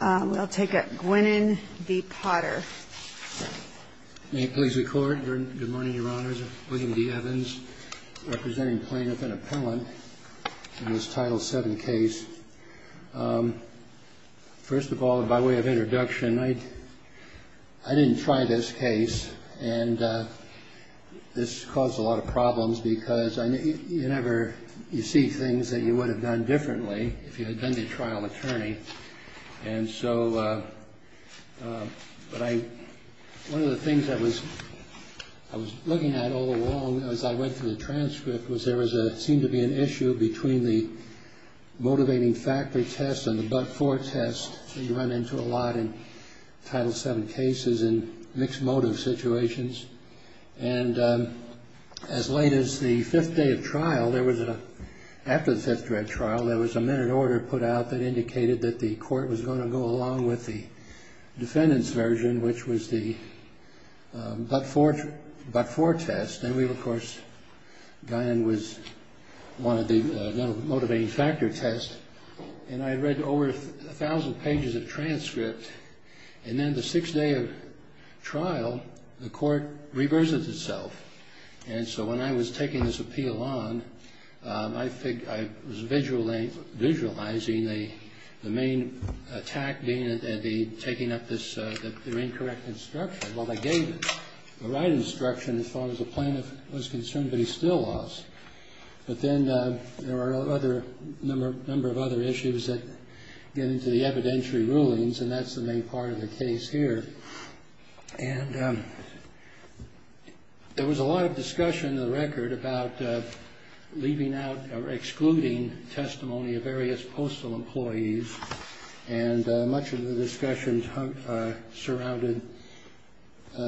May it please the Court. Good morning, Your Honors. William D. Evans, representing plaintiff and appellant in this Title VII case. First of all, by way of introduction, I didn't try this case, and this caused a lot of problems because you see things that you would have done differently if you had been the trial attorney. One of the things I was looking at all along as I went through the transcript was there seemed to be an issue between the motivating factor test and the but-for test that you run into a lot in Title VII cases in mixed motive situations. And as late as the fifth day of trial, after the fifth day of trial, there was a minute order put out that indicated that the Court was going to go along with the defendant's version, which was the but-for test. Then, of course, Guyon was one of the motivating factor tests, and I read over a thousand pages of transcript, and then the sixth day of trial, the Court reversed itself. And so when I was taking this appeal on, I was visualizing the main attack being taking up this incorrect instruction. Well, they gave him the right instruction as far as the plaintiff was concerned, but he still lost. But then there were a number of other issues that get into the evidentiary rulings, and that's the main part of the case here. And there was a lot of discussion in the record about leaving out or excluding testimony of various postal employees, and much of the discussion surrounded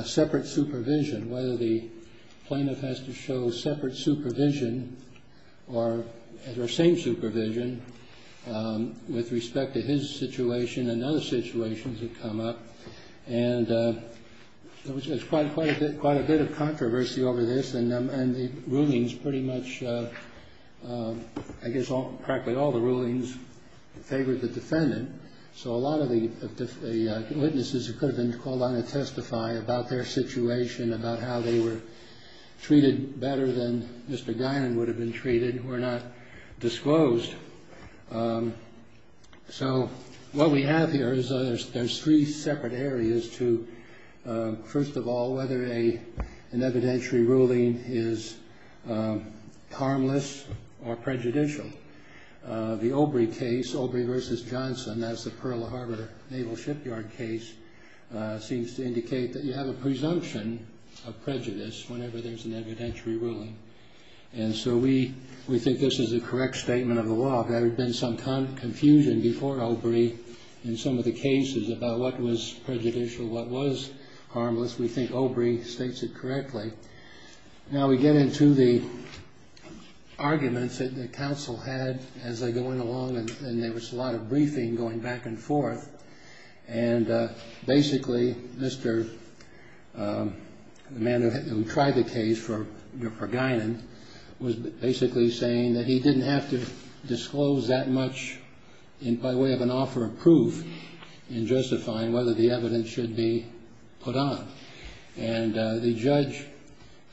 separate supervision, whether the plaintiff has to show separate supervision or same supervision with respect to his situation and other situations that come up. And there was quite a bit of controversy over this, and the rulings pretty much, I guess practically all the rulings favored the defendant. So a lot of the witnesses who could have been called on to testify about their situation, about how they were treated better than Mr. Guyon would have been treated, were not disclosed. So what we have here is there's three separate areas to, first of all, whether an evidentiary ruling is harmless or prejudicial. The Obrey case, Obrey v. Johnson, that's the Pearl Harbor Naval Shipyard case, seems to indicate that you have a presumption of prejudice whenever there's an evidentiary ruling. And so we think this is a correct statement of the law. If there had been some confusion before Obrey in some of the cases about what was prejudicial, what was harmless, we think Obrey states it correctly. Now we get into the arguments that the counsel had as they went along, and there was a lot of briefing going back and forth. And basically, the man who tried the case for Guyon was basically saying that he didn't have to disclose that much by way of an offer of proof in justifying whether the evidence should be put on. And the judge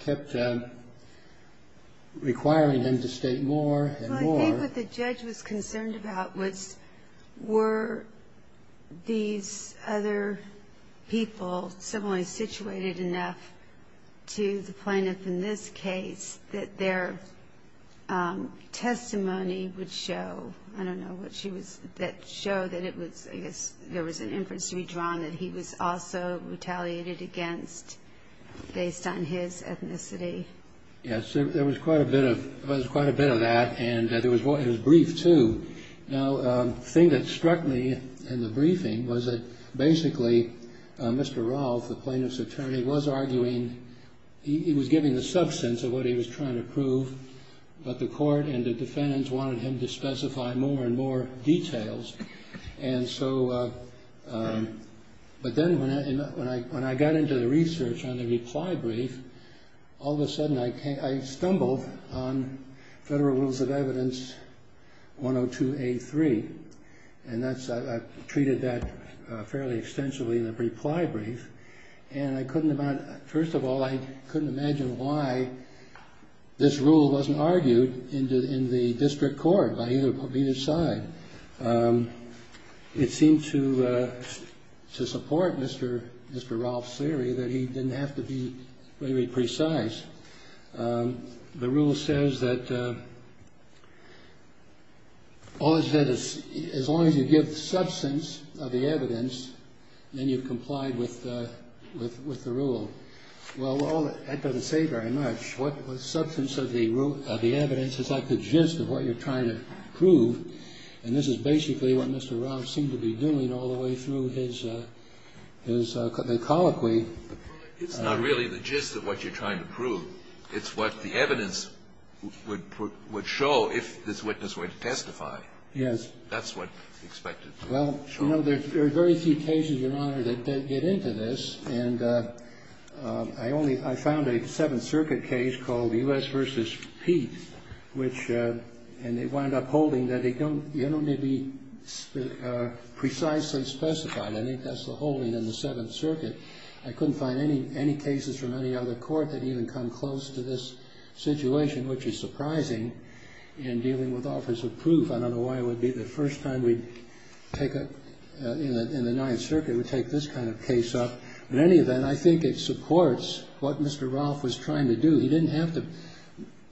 kept requiring him to state more and more. But I think what the judge was concerned about was were these other people similarly situated enough to the plaintiff in this case that their testimony would show, I don't know, that show that it was, I guess, there was an inference to be drawn that he was also retaliated against based on his ethnicity. Yes, there was quite a bit of that, and it was brief, too. Now, the thing that struck me in the briefing was that basically Mr. Rolfe, the plaintiff's attorney, was arguing, he was giving the substance of what he was trying to prove, but the court and the defendants wanted him to specify more and more details. But then when I got into the research on the reply brief, all of a sudden I stumbled on Federal Rules of Evidence 102A3, and I treated that fairly extensively in the reply brief. And I couldn't imagine, first of all, I couldn't imagine why this rule wasn't argued in the district court by either side. It seemed to support Mr. Rolfe's theory that he didn't have to be very precise. The rule says that as long as you give the substance of the evidence, then you've complied with the rule. Well, that doesn't say very much. The substance of the evidence is like the gist of what you're trying to prove, and this is basically what Mr. Rolfe seemed to be doing all the way through his colloquy. It's not really the gist of what you're trying to prove. It's what the evidence would show if this witness were to testify. Yes. That's what's expected. Well, you know, there are very few cases, Your Honor, that get into this. And I found a Seventh Circuit case called U.S. v. Pete, which they wound up holding that they don't maybe precisely specify. I think that's the holding in the Seventh Circuit. I couldn't find any cases from any other court that even come close to this situation, which is surprising in dealing with offers of proof. I don't know why it would be the first time we'd take a – in the Ninth Circuit we'd take this kind of case up. In any event, I think it supports what Mr. Rolfe was trying to do. He didn't have to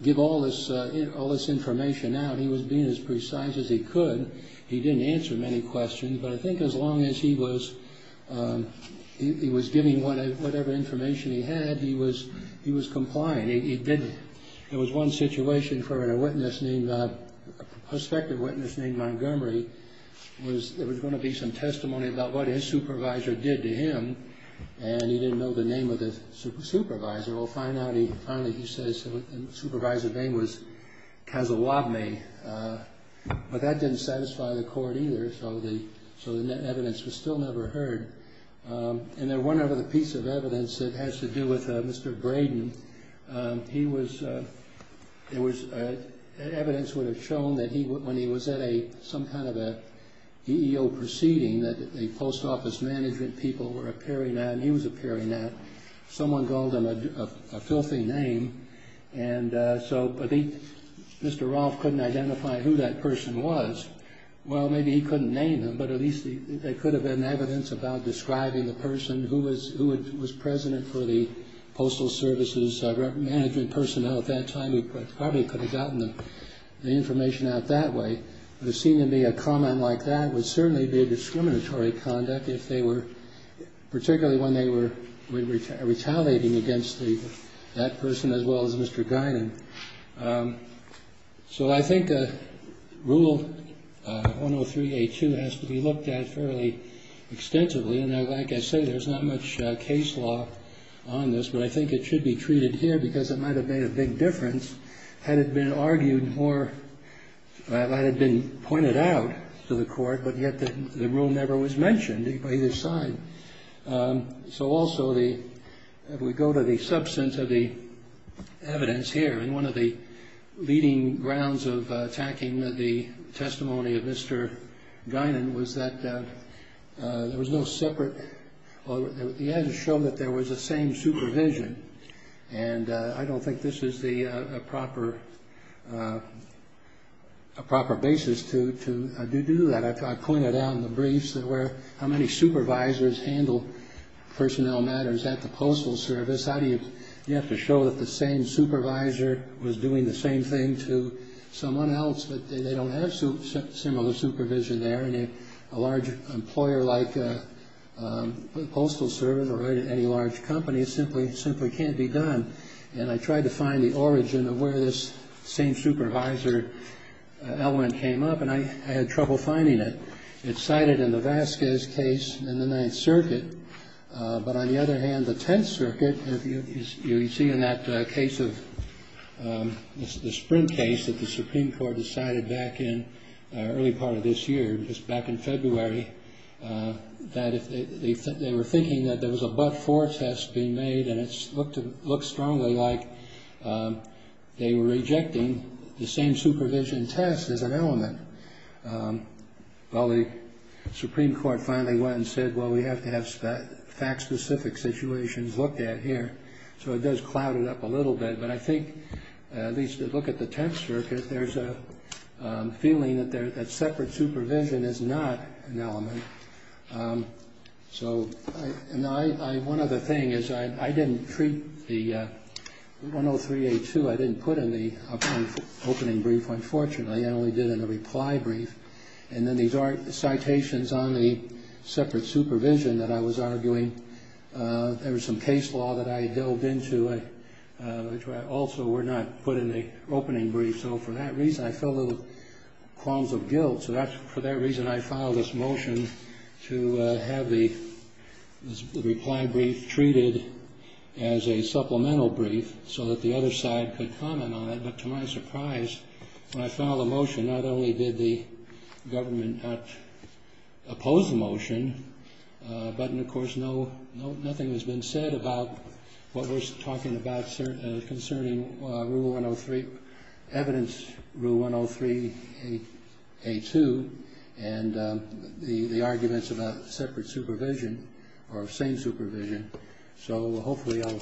give all this information out. He was being as precise as he could. He didn't answer many questions. But I think as long as he was giving whatever information he had, he was complying. There was one situation for a witness named – a prospective witness named Montgomery. There was going to be some testimony about what his supervisor did to him, and he didn't know the name of the supervisor. Well, finally, he says the supervisor's name was Casalabney. But that didn't satisfy the court either, so the evidence was still never heard. And then one other piece of evidence that has to do with Mr. Braden, he was – it was – evidence would have shown that when he was at some kind of an EEO proceeding that the post office management people were appearing at, and he was appearing at. Someone called him a filthy name. And so I think Mr. Rolfe couldn't identify who that person was. Well, maybe he couldn't name him, but at least it could have been evidence about describing the person who was president for the Postal Service's management personnel at that time. He probably could have gotten the information out that way. But it seemed to me a comment like that would certainly be a discriminatory conduct if they were – So I think the rule 103A2 has to be looked at fairly extensively. And like I say, there's not much case law on this, but I think it should be treated here because it might have made a big difference had it been argued more – had it been pointed out to the court, but yet the rule never was mentioned by either side. So also the – if we go to the substance of the evidence here, and one of the leading grounds of attacking the testimony of Mr. Guinan was that there was no separate – he had to show that there was the same supervision, and I don't think this is the proper basis to do that. I pointed out in the briefs that where – how many supervisors handle personnel matters at the Postal Service? How do you – you have to show that the same supervisor was doing the same thing to someone else, but they don't have similar supervision there, and a large employer like the Postal Service or any large company simply can't be done. And I tried to find the origin of where this same supervisor element came up, and I had trouble finding it. It's cited in the Vasquez case in the Ninth Circuit, but on the other hand, the Tenth Circuit, you see in that case of – the Sprint case that the Supreme Court decided back in the early part of this year, just back in February, that they were thinking that there was a but-for test being made, and it looks strongly like they were rejecting the same supervision test as an element. Well, the Supreme Court finally went and said, well, we have to have fact-specific situations looked at here, so it does cloud it up a little bit, but I think, at least to look at the Tenth Circuit, there's a feeling that separate supervision is not an element. So one other thing is I didn't treat the – 103A2 I didn't put in the opening brief, unfortunately. I only did it in a reply brief. And then these are citations on the separate supervision that I was arguing. There was some case law that I had delved into, which also were not put in the opening brief. So for that reason, I felt a little qualms of guilt. So for that reason, I filed this motion to have the reply brief treated as a supplemental brief so that the other side could comment on it. But to my surprise, when I filed the motion, not only did the government not oppose the motion, but, of course, nothing has been said about what we're talking about concerning Rule 103, evidence Rule 103A2 and the arguments about separate supervision or same supervision. So hopefully I'll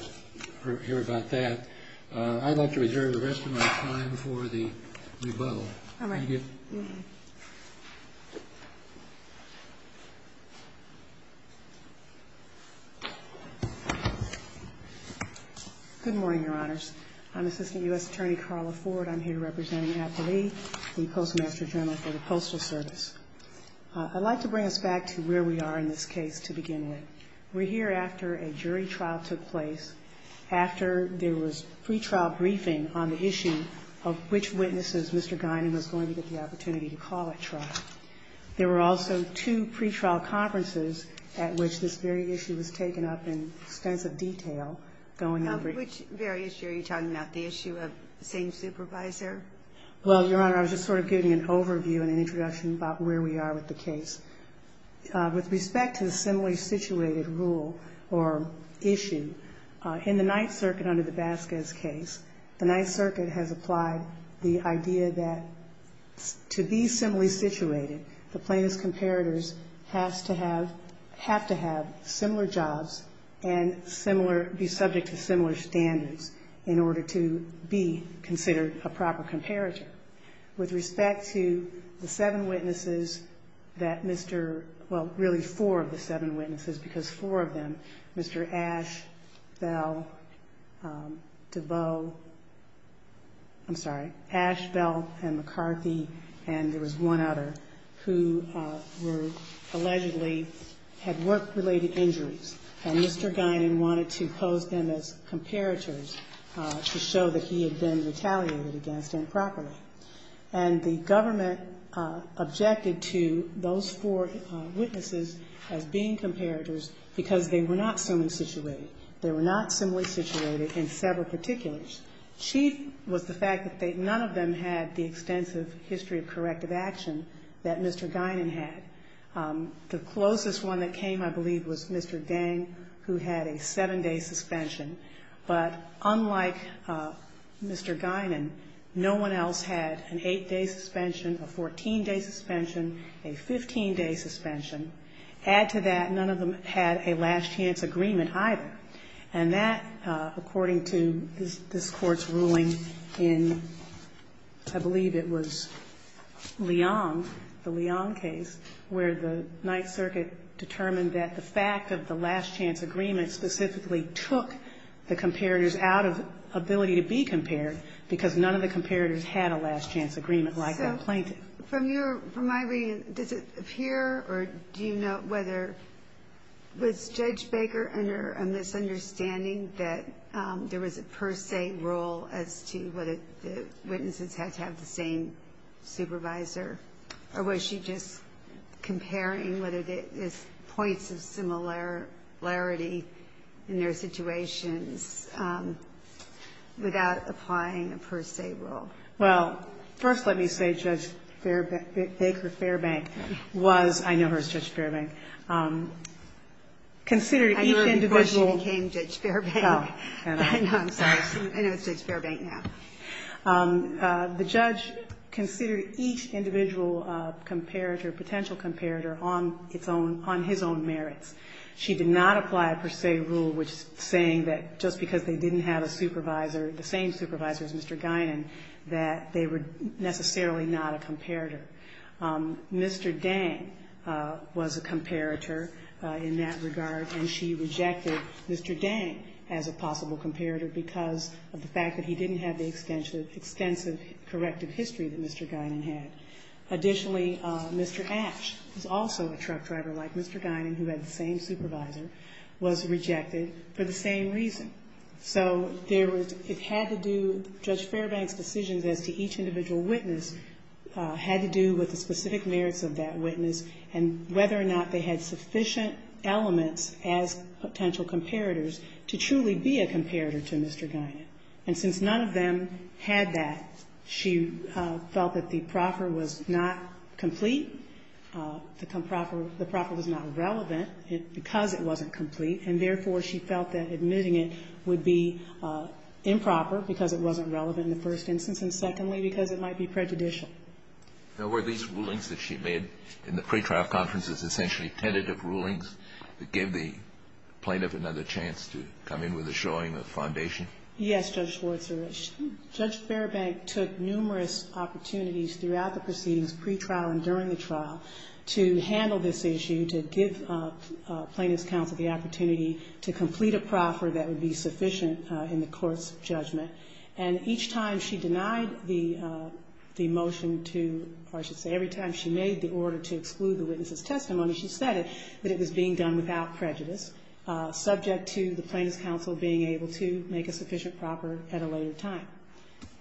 hear about that. I'd like to reserve the rest of my time for the rebuttal. All right. Thank you. Good morning, Your Honors. I'm Assistant U.S. Attorney Carla Ford. I'm here representing APALE, the Postmaster General for the Postal Service. I'd like to bring us back to where we are in this case to begin with. We're here after a jury trial took place, after there was pretrial briefing on the issue of which witnesses Mr. Guinan was going to get the opportunity to call at trial. There were also two pretrial conferences at which this very issue was taken up in extensive detail going over it. Which very issue are you talking about, the issue of same supervisor? Well, Your Honor, I was just sort of giving an overview and an introduction about where we are with the case. With respect to the similarly situated rule or issue, in the Ninth Circuit under the Vasquez case, the Ninth Circuit has applied the idea that to be similarly situated, the plaintiff's comparators have to have similar jobs and be subject to similar standards in order to be considered a proper comparator. With respect to the seven witnesses that Mr. — well, really four of the seven witnesses, because four of them, Mr. Ash, Bell, DeVoe — I'm sorry, Ash, Bell, and McCarthy, and there was one other who were allegedly — had work-related injuries. And Mr. Guinan wanted to pose them as comparators to show that he had been retaliated against improperly. And the government objected to those four witnesses as being comparators because they were not similarly situated. They were not similarly situated in several particulars. Chief was the fact that none of them had the extensive history of corrective action that Mr. Guinan had. The closest one that came, I believe, was Mr. Gang, who had a seven-day suspension. But unlike Mr. Guinan, no one else had an eight-day suspension, a 14-day suspension, a 15-day suspension. Add to that, none of them had a last-chance agreement either. And that, according to this Court's ruling in, I believe it was, Leong, the Leong case, where the Ninth Circuit determined that the fact of the last-chance agreement specifically took the comparators out of ability to be compared because none of the comparators had a last-chance agreement like that plaintiff. So from your — from my reading, does it appear or do you know whether — was Judge Baker under a misunderstanding that there was a per se rule as to whether the witnesses had to have the same supervisor? Or was she just comparing whether there's points of similarity in their situations without applying a per se rule? Well, first let me say Judge Baker Fairbank was — I know her as Judge Fairbank — considered each individual — I knew her before she became Judge Fairbank. Oh, I know. No, I'm sorry. I know it's Judge Fairbank now. The judge considered each individual comparator, potential comparator, on its own — on his own merits. She did not apply a per se rule saying that just because they didn't have a supervisor, the same supervisor as Mr. Guinan, that they were necessarily not a comparator. Mr. Dang was a comparator in that regard, and she rejected Mr. Dang as a possible comparator because of the fact that he didn't have the extensive corrective history that Mr. Guinan had. Additionally, Mr. Ash, who's also a truck driver like Mr. Guinan, who had the same supervisor, was rejected for the same reason. So there was — it had to do — Judge Fairbank's decisions as to each individual witness had to do with the specific merits of that witness and whether or not they had sufficient elements as potential comparators to truly be a comparator to Mr. Guinan. And since none of them had that, she felt that the proffer was not complete, the proffer was not relevant because it wasn't complete, and therefore, she felt that admitting it would be improper because it wasn't relevant in the first instance and, secondly, because it might be prejudicial. Now, were these rulings that she made in the pretrial conferences essentially tentative rulings that gave the plaintiff another chance to come in with a showing of foundation? Yes, Judge Schwartz. Judge Fairbank took numerous opportunities throughout the proceedings, pretrial and during the trial, to handle this issue, to give plaintiff's counsel the opportunity to complete a proffer that would be sufficient in the court's judgment. And each time she denied the motion to — or I should say every time she made the order to exclude the witness's testimony, she said it, that it was being done without prejudice, subject to the plaintiff's counsel being able to make a sufficient proffer at a later time.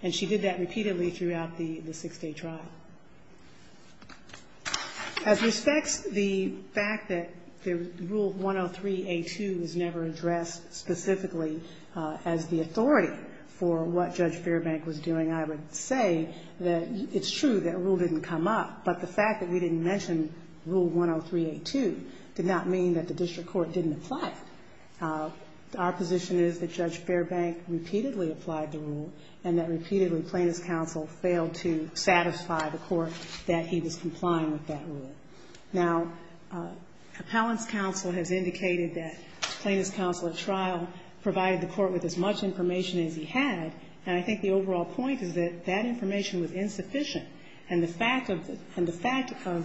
And she did that repeatedly throughout the six-day trial. As respects the fact that Rule 103a2 was never addressed specifically as the authority for what Judge Fairbank was doing, I would say that it's true that a rule didn't come up, but the fact that we didn't mention Rule 103a2 did not mean that the district court didn't apply it. Our position is that Judge Fairbank repeatedly applied the rule and that repeatedly plaintiff's counsel failed to satisfy the court that he was complying with that rule. Now, appellant's counsel has indicated that plaintiff's counsel at trial provided the court with as much information as he had, and I think the overall point is that that information was insufficient. And the fact of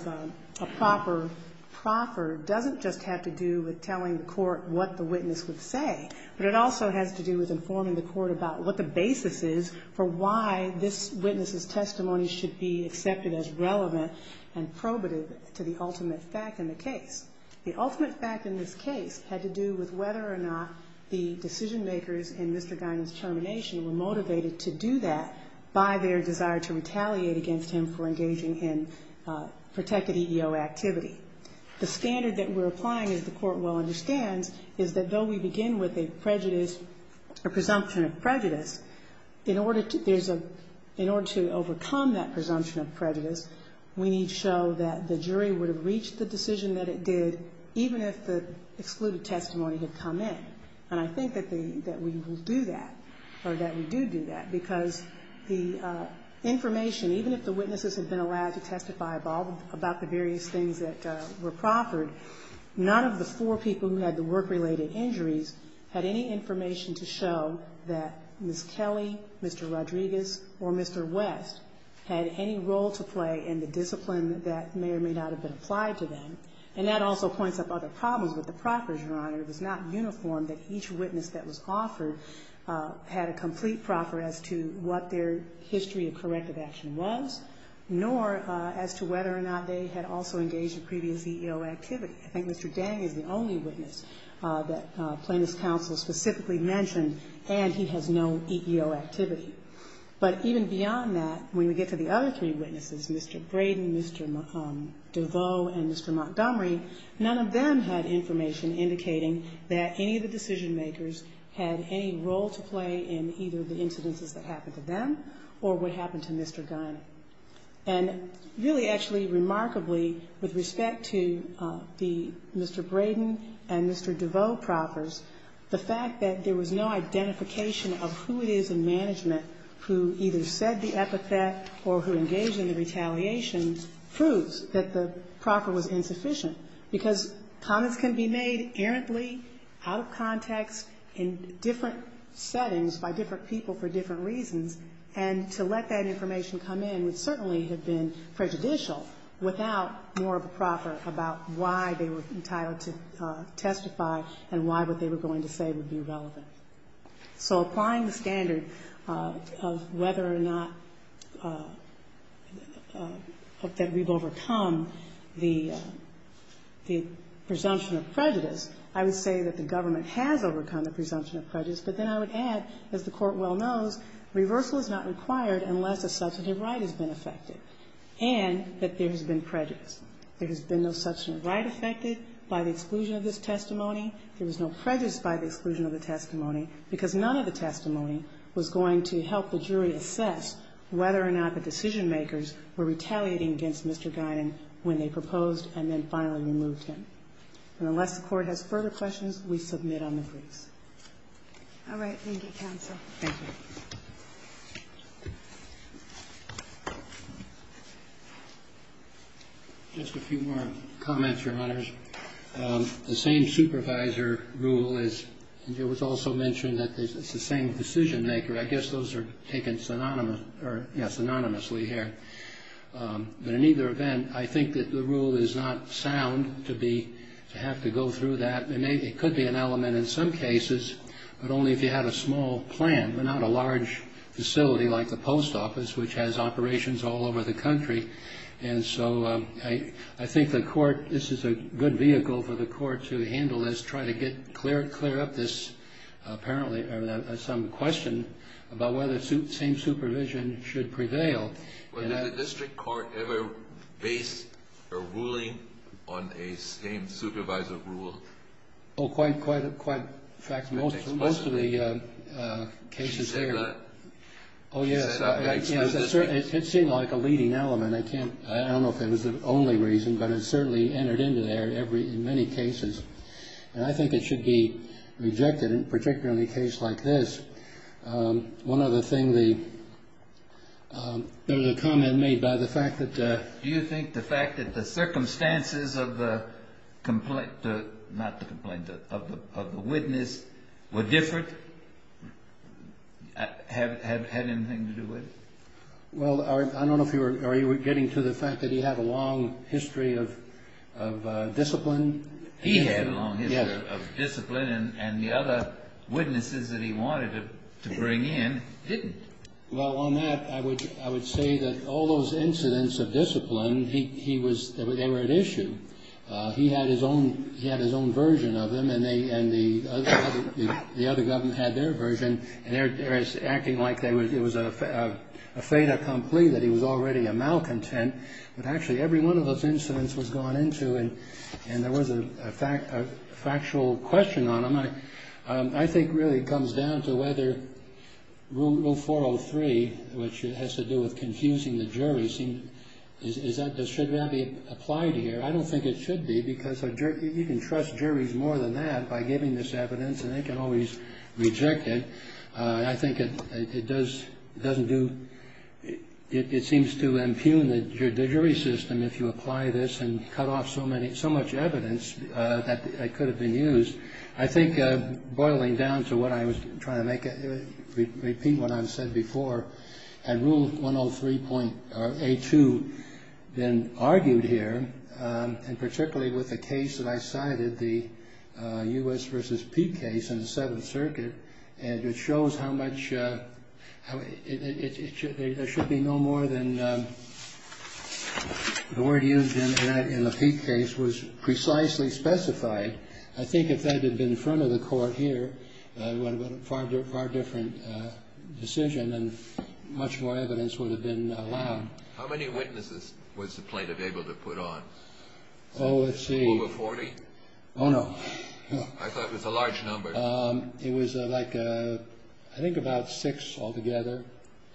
a proper proffer doesn't just have to do with telling the court what the witness would say, but it also has to do with informing the court about what the basis is for why this witness's testimony should be accepted as relevant and probative to the ultimate fact in the case. The ultimate fact in this case had to do with whether or not the decision-makers in Mr. Guinan's termination were motivated to do that by their desire to retaliate against him for engaging in protected EEO activity. The standard that we're applying, as the Court well understands, is that though we begin with a prejudice, a presumption of prejudice, in order to overcome that presumption of prejudice, we need to show that the jury would have reached the decision that it did even if the excluded testimony had come in. And I think that we will do that, or that we do do that, because the information even if the witnesses had been allowed to testify about the various things that were proffered, none of the four people who had the work-related injuries had any information to show that Ms. Kelly, Mr. Rodriguez, or Mr. West had any role to play in the discipline that may or may not have been applied to them. And that also points up other problems with the proffers, Your Honor. It was not uniform that each witness that was offered had a complete proffer as to what their history of corrective action was, nor as to whether or not they had also engaged in previous EEO activity. I think Mr. Dang is the only witness that Plaintiff's counsel specifically mentioned, and he has no EEO activity. But even beyond that, when we get to the other three witnesses, Mr. Braden, Mr. DeVoe, and Mr. Montgomery, none of them had information indicating that any of the decision-makers had any role to play in either the incidences that happened to them or what happened to Mr. Gunn. And really, actually, remarkably, with respect to the Mr. Braden and Mr. DeVoe proffers, the fact that there was no identification of who it is in management who either said the epithet or who engaged in the retaliation proves that the proffer was insufficient, because comments can be made errantly, out of context, in different settings by different people for different reasons, and to let that information come in would certainly have been prejudicial without more of a proffer about why they were entitled to testify and why what they were going to say would be relevant. So applying the standard of whether or not that we've overcome the presumption of prejudice, I would say that the government has overcome the presumption of prejudice, but then I would add, as the Court well knows, reversal is not required unless a substantive right has been effected and that there has been prejudice. There has been no substantive right effected by the exclusion of this testimony. There was no prejudice by the exclusion of the testimony, because none of the testimony was going to help the jury assess whether or not the decision-makers were retaliating against Mr. Guinan when they proposed and then finally removed him. And unless the Court has further questions, we submit on the briefs. All right. Thank you, counsel. Thank you. Just a few more comments, Your Honors. The same supervisor rule is also mentioned that it's the same decision-maker. I guess those are taken synonymously here. But in either event, I think that the rule is not sound to have to go through that. It could be an element in some cases, but only if you had a small plan, but not a large facility like the post office, which has operations all over the country. And so I think the Court, this is a good vehicle for the Court to handle this, try to clear up this, apparently, some question about whether same supervision should prevail. Well, did the district court ever base a ruling on a same supervisor rule? Oh, quite, quite, in fact, most of the cases there. Oh, yes. It seemed like a leading element. I can't, I don't know if it was the only reason, but it certainly entered into there in many cases. And I think it should be rejected in particularly a case like this. One other thing, there was a comment made by the fact that Do you think the fact that the circumstances of the complaint, not the complaint, of the witness were different, had anything to do with it? Well, I don't know if you were getting to the fact that he had a long history of discipline. He had a long history of discipline, and the other witnesses that he wanted to bring in didn't. Well, on that, I would say that all those incidents of discipline, they were at issue. He had his own version of them, and the other government had their version, and they were acting like it was a fait accompli, that he was already a malcontent. But actually, every one of those incidents was gone into, and there was a factual question on them. I think it really comes down to whether Rule 403, which has to do with confusing the jury, should that be applied here? I don't think it should be, because you can trust juries more than that by giving this evidence, and they can always reject it. I think it does, it doesn't do, it seems to impugn the jury system if you apply this and cut off so much evidence that could have been used. I think, boiling down to what I was trying to make, repeat what I've said before, had Rule 103.82 been argued here, and particularly with the case that I cited, the U.S. v. Peake case in the Seventh Circuit, and it shows how much, there should be no more than the word used in the Peake case was precisely specified. I think if that had been in front of the court here, it would have been a far different decision, and much more evidence would have been allowed. How many witnesses was the plaintiff able to put on? Oh, let's see. Over 40? Oh, no. I thought it was a large number. It was like, I think about six altogether,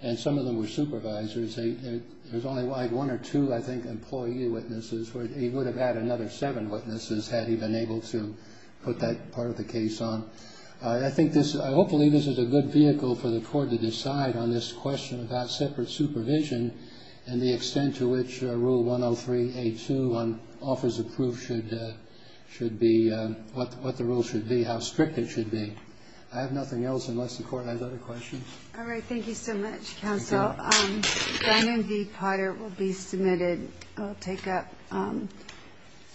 and some of them were supervisors. There was only one or two, I think, employee witnesses, where he would have had another seven witnesses had he been able to put that part of the case on. I think this, hopefully this is a good vehicle for the court to decide on this question without separate supervision and the extent to which Rule 103.82 offers the proof should be, what the rule should be, how strict it should be. I have nothing else unless the court has other questions. All right. Thank you so much, counsel. Thank you. Dine-in v. Potter will be submitted. I'll take up.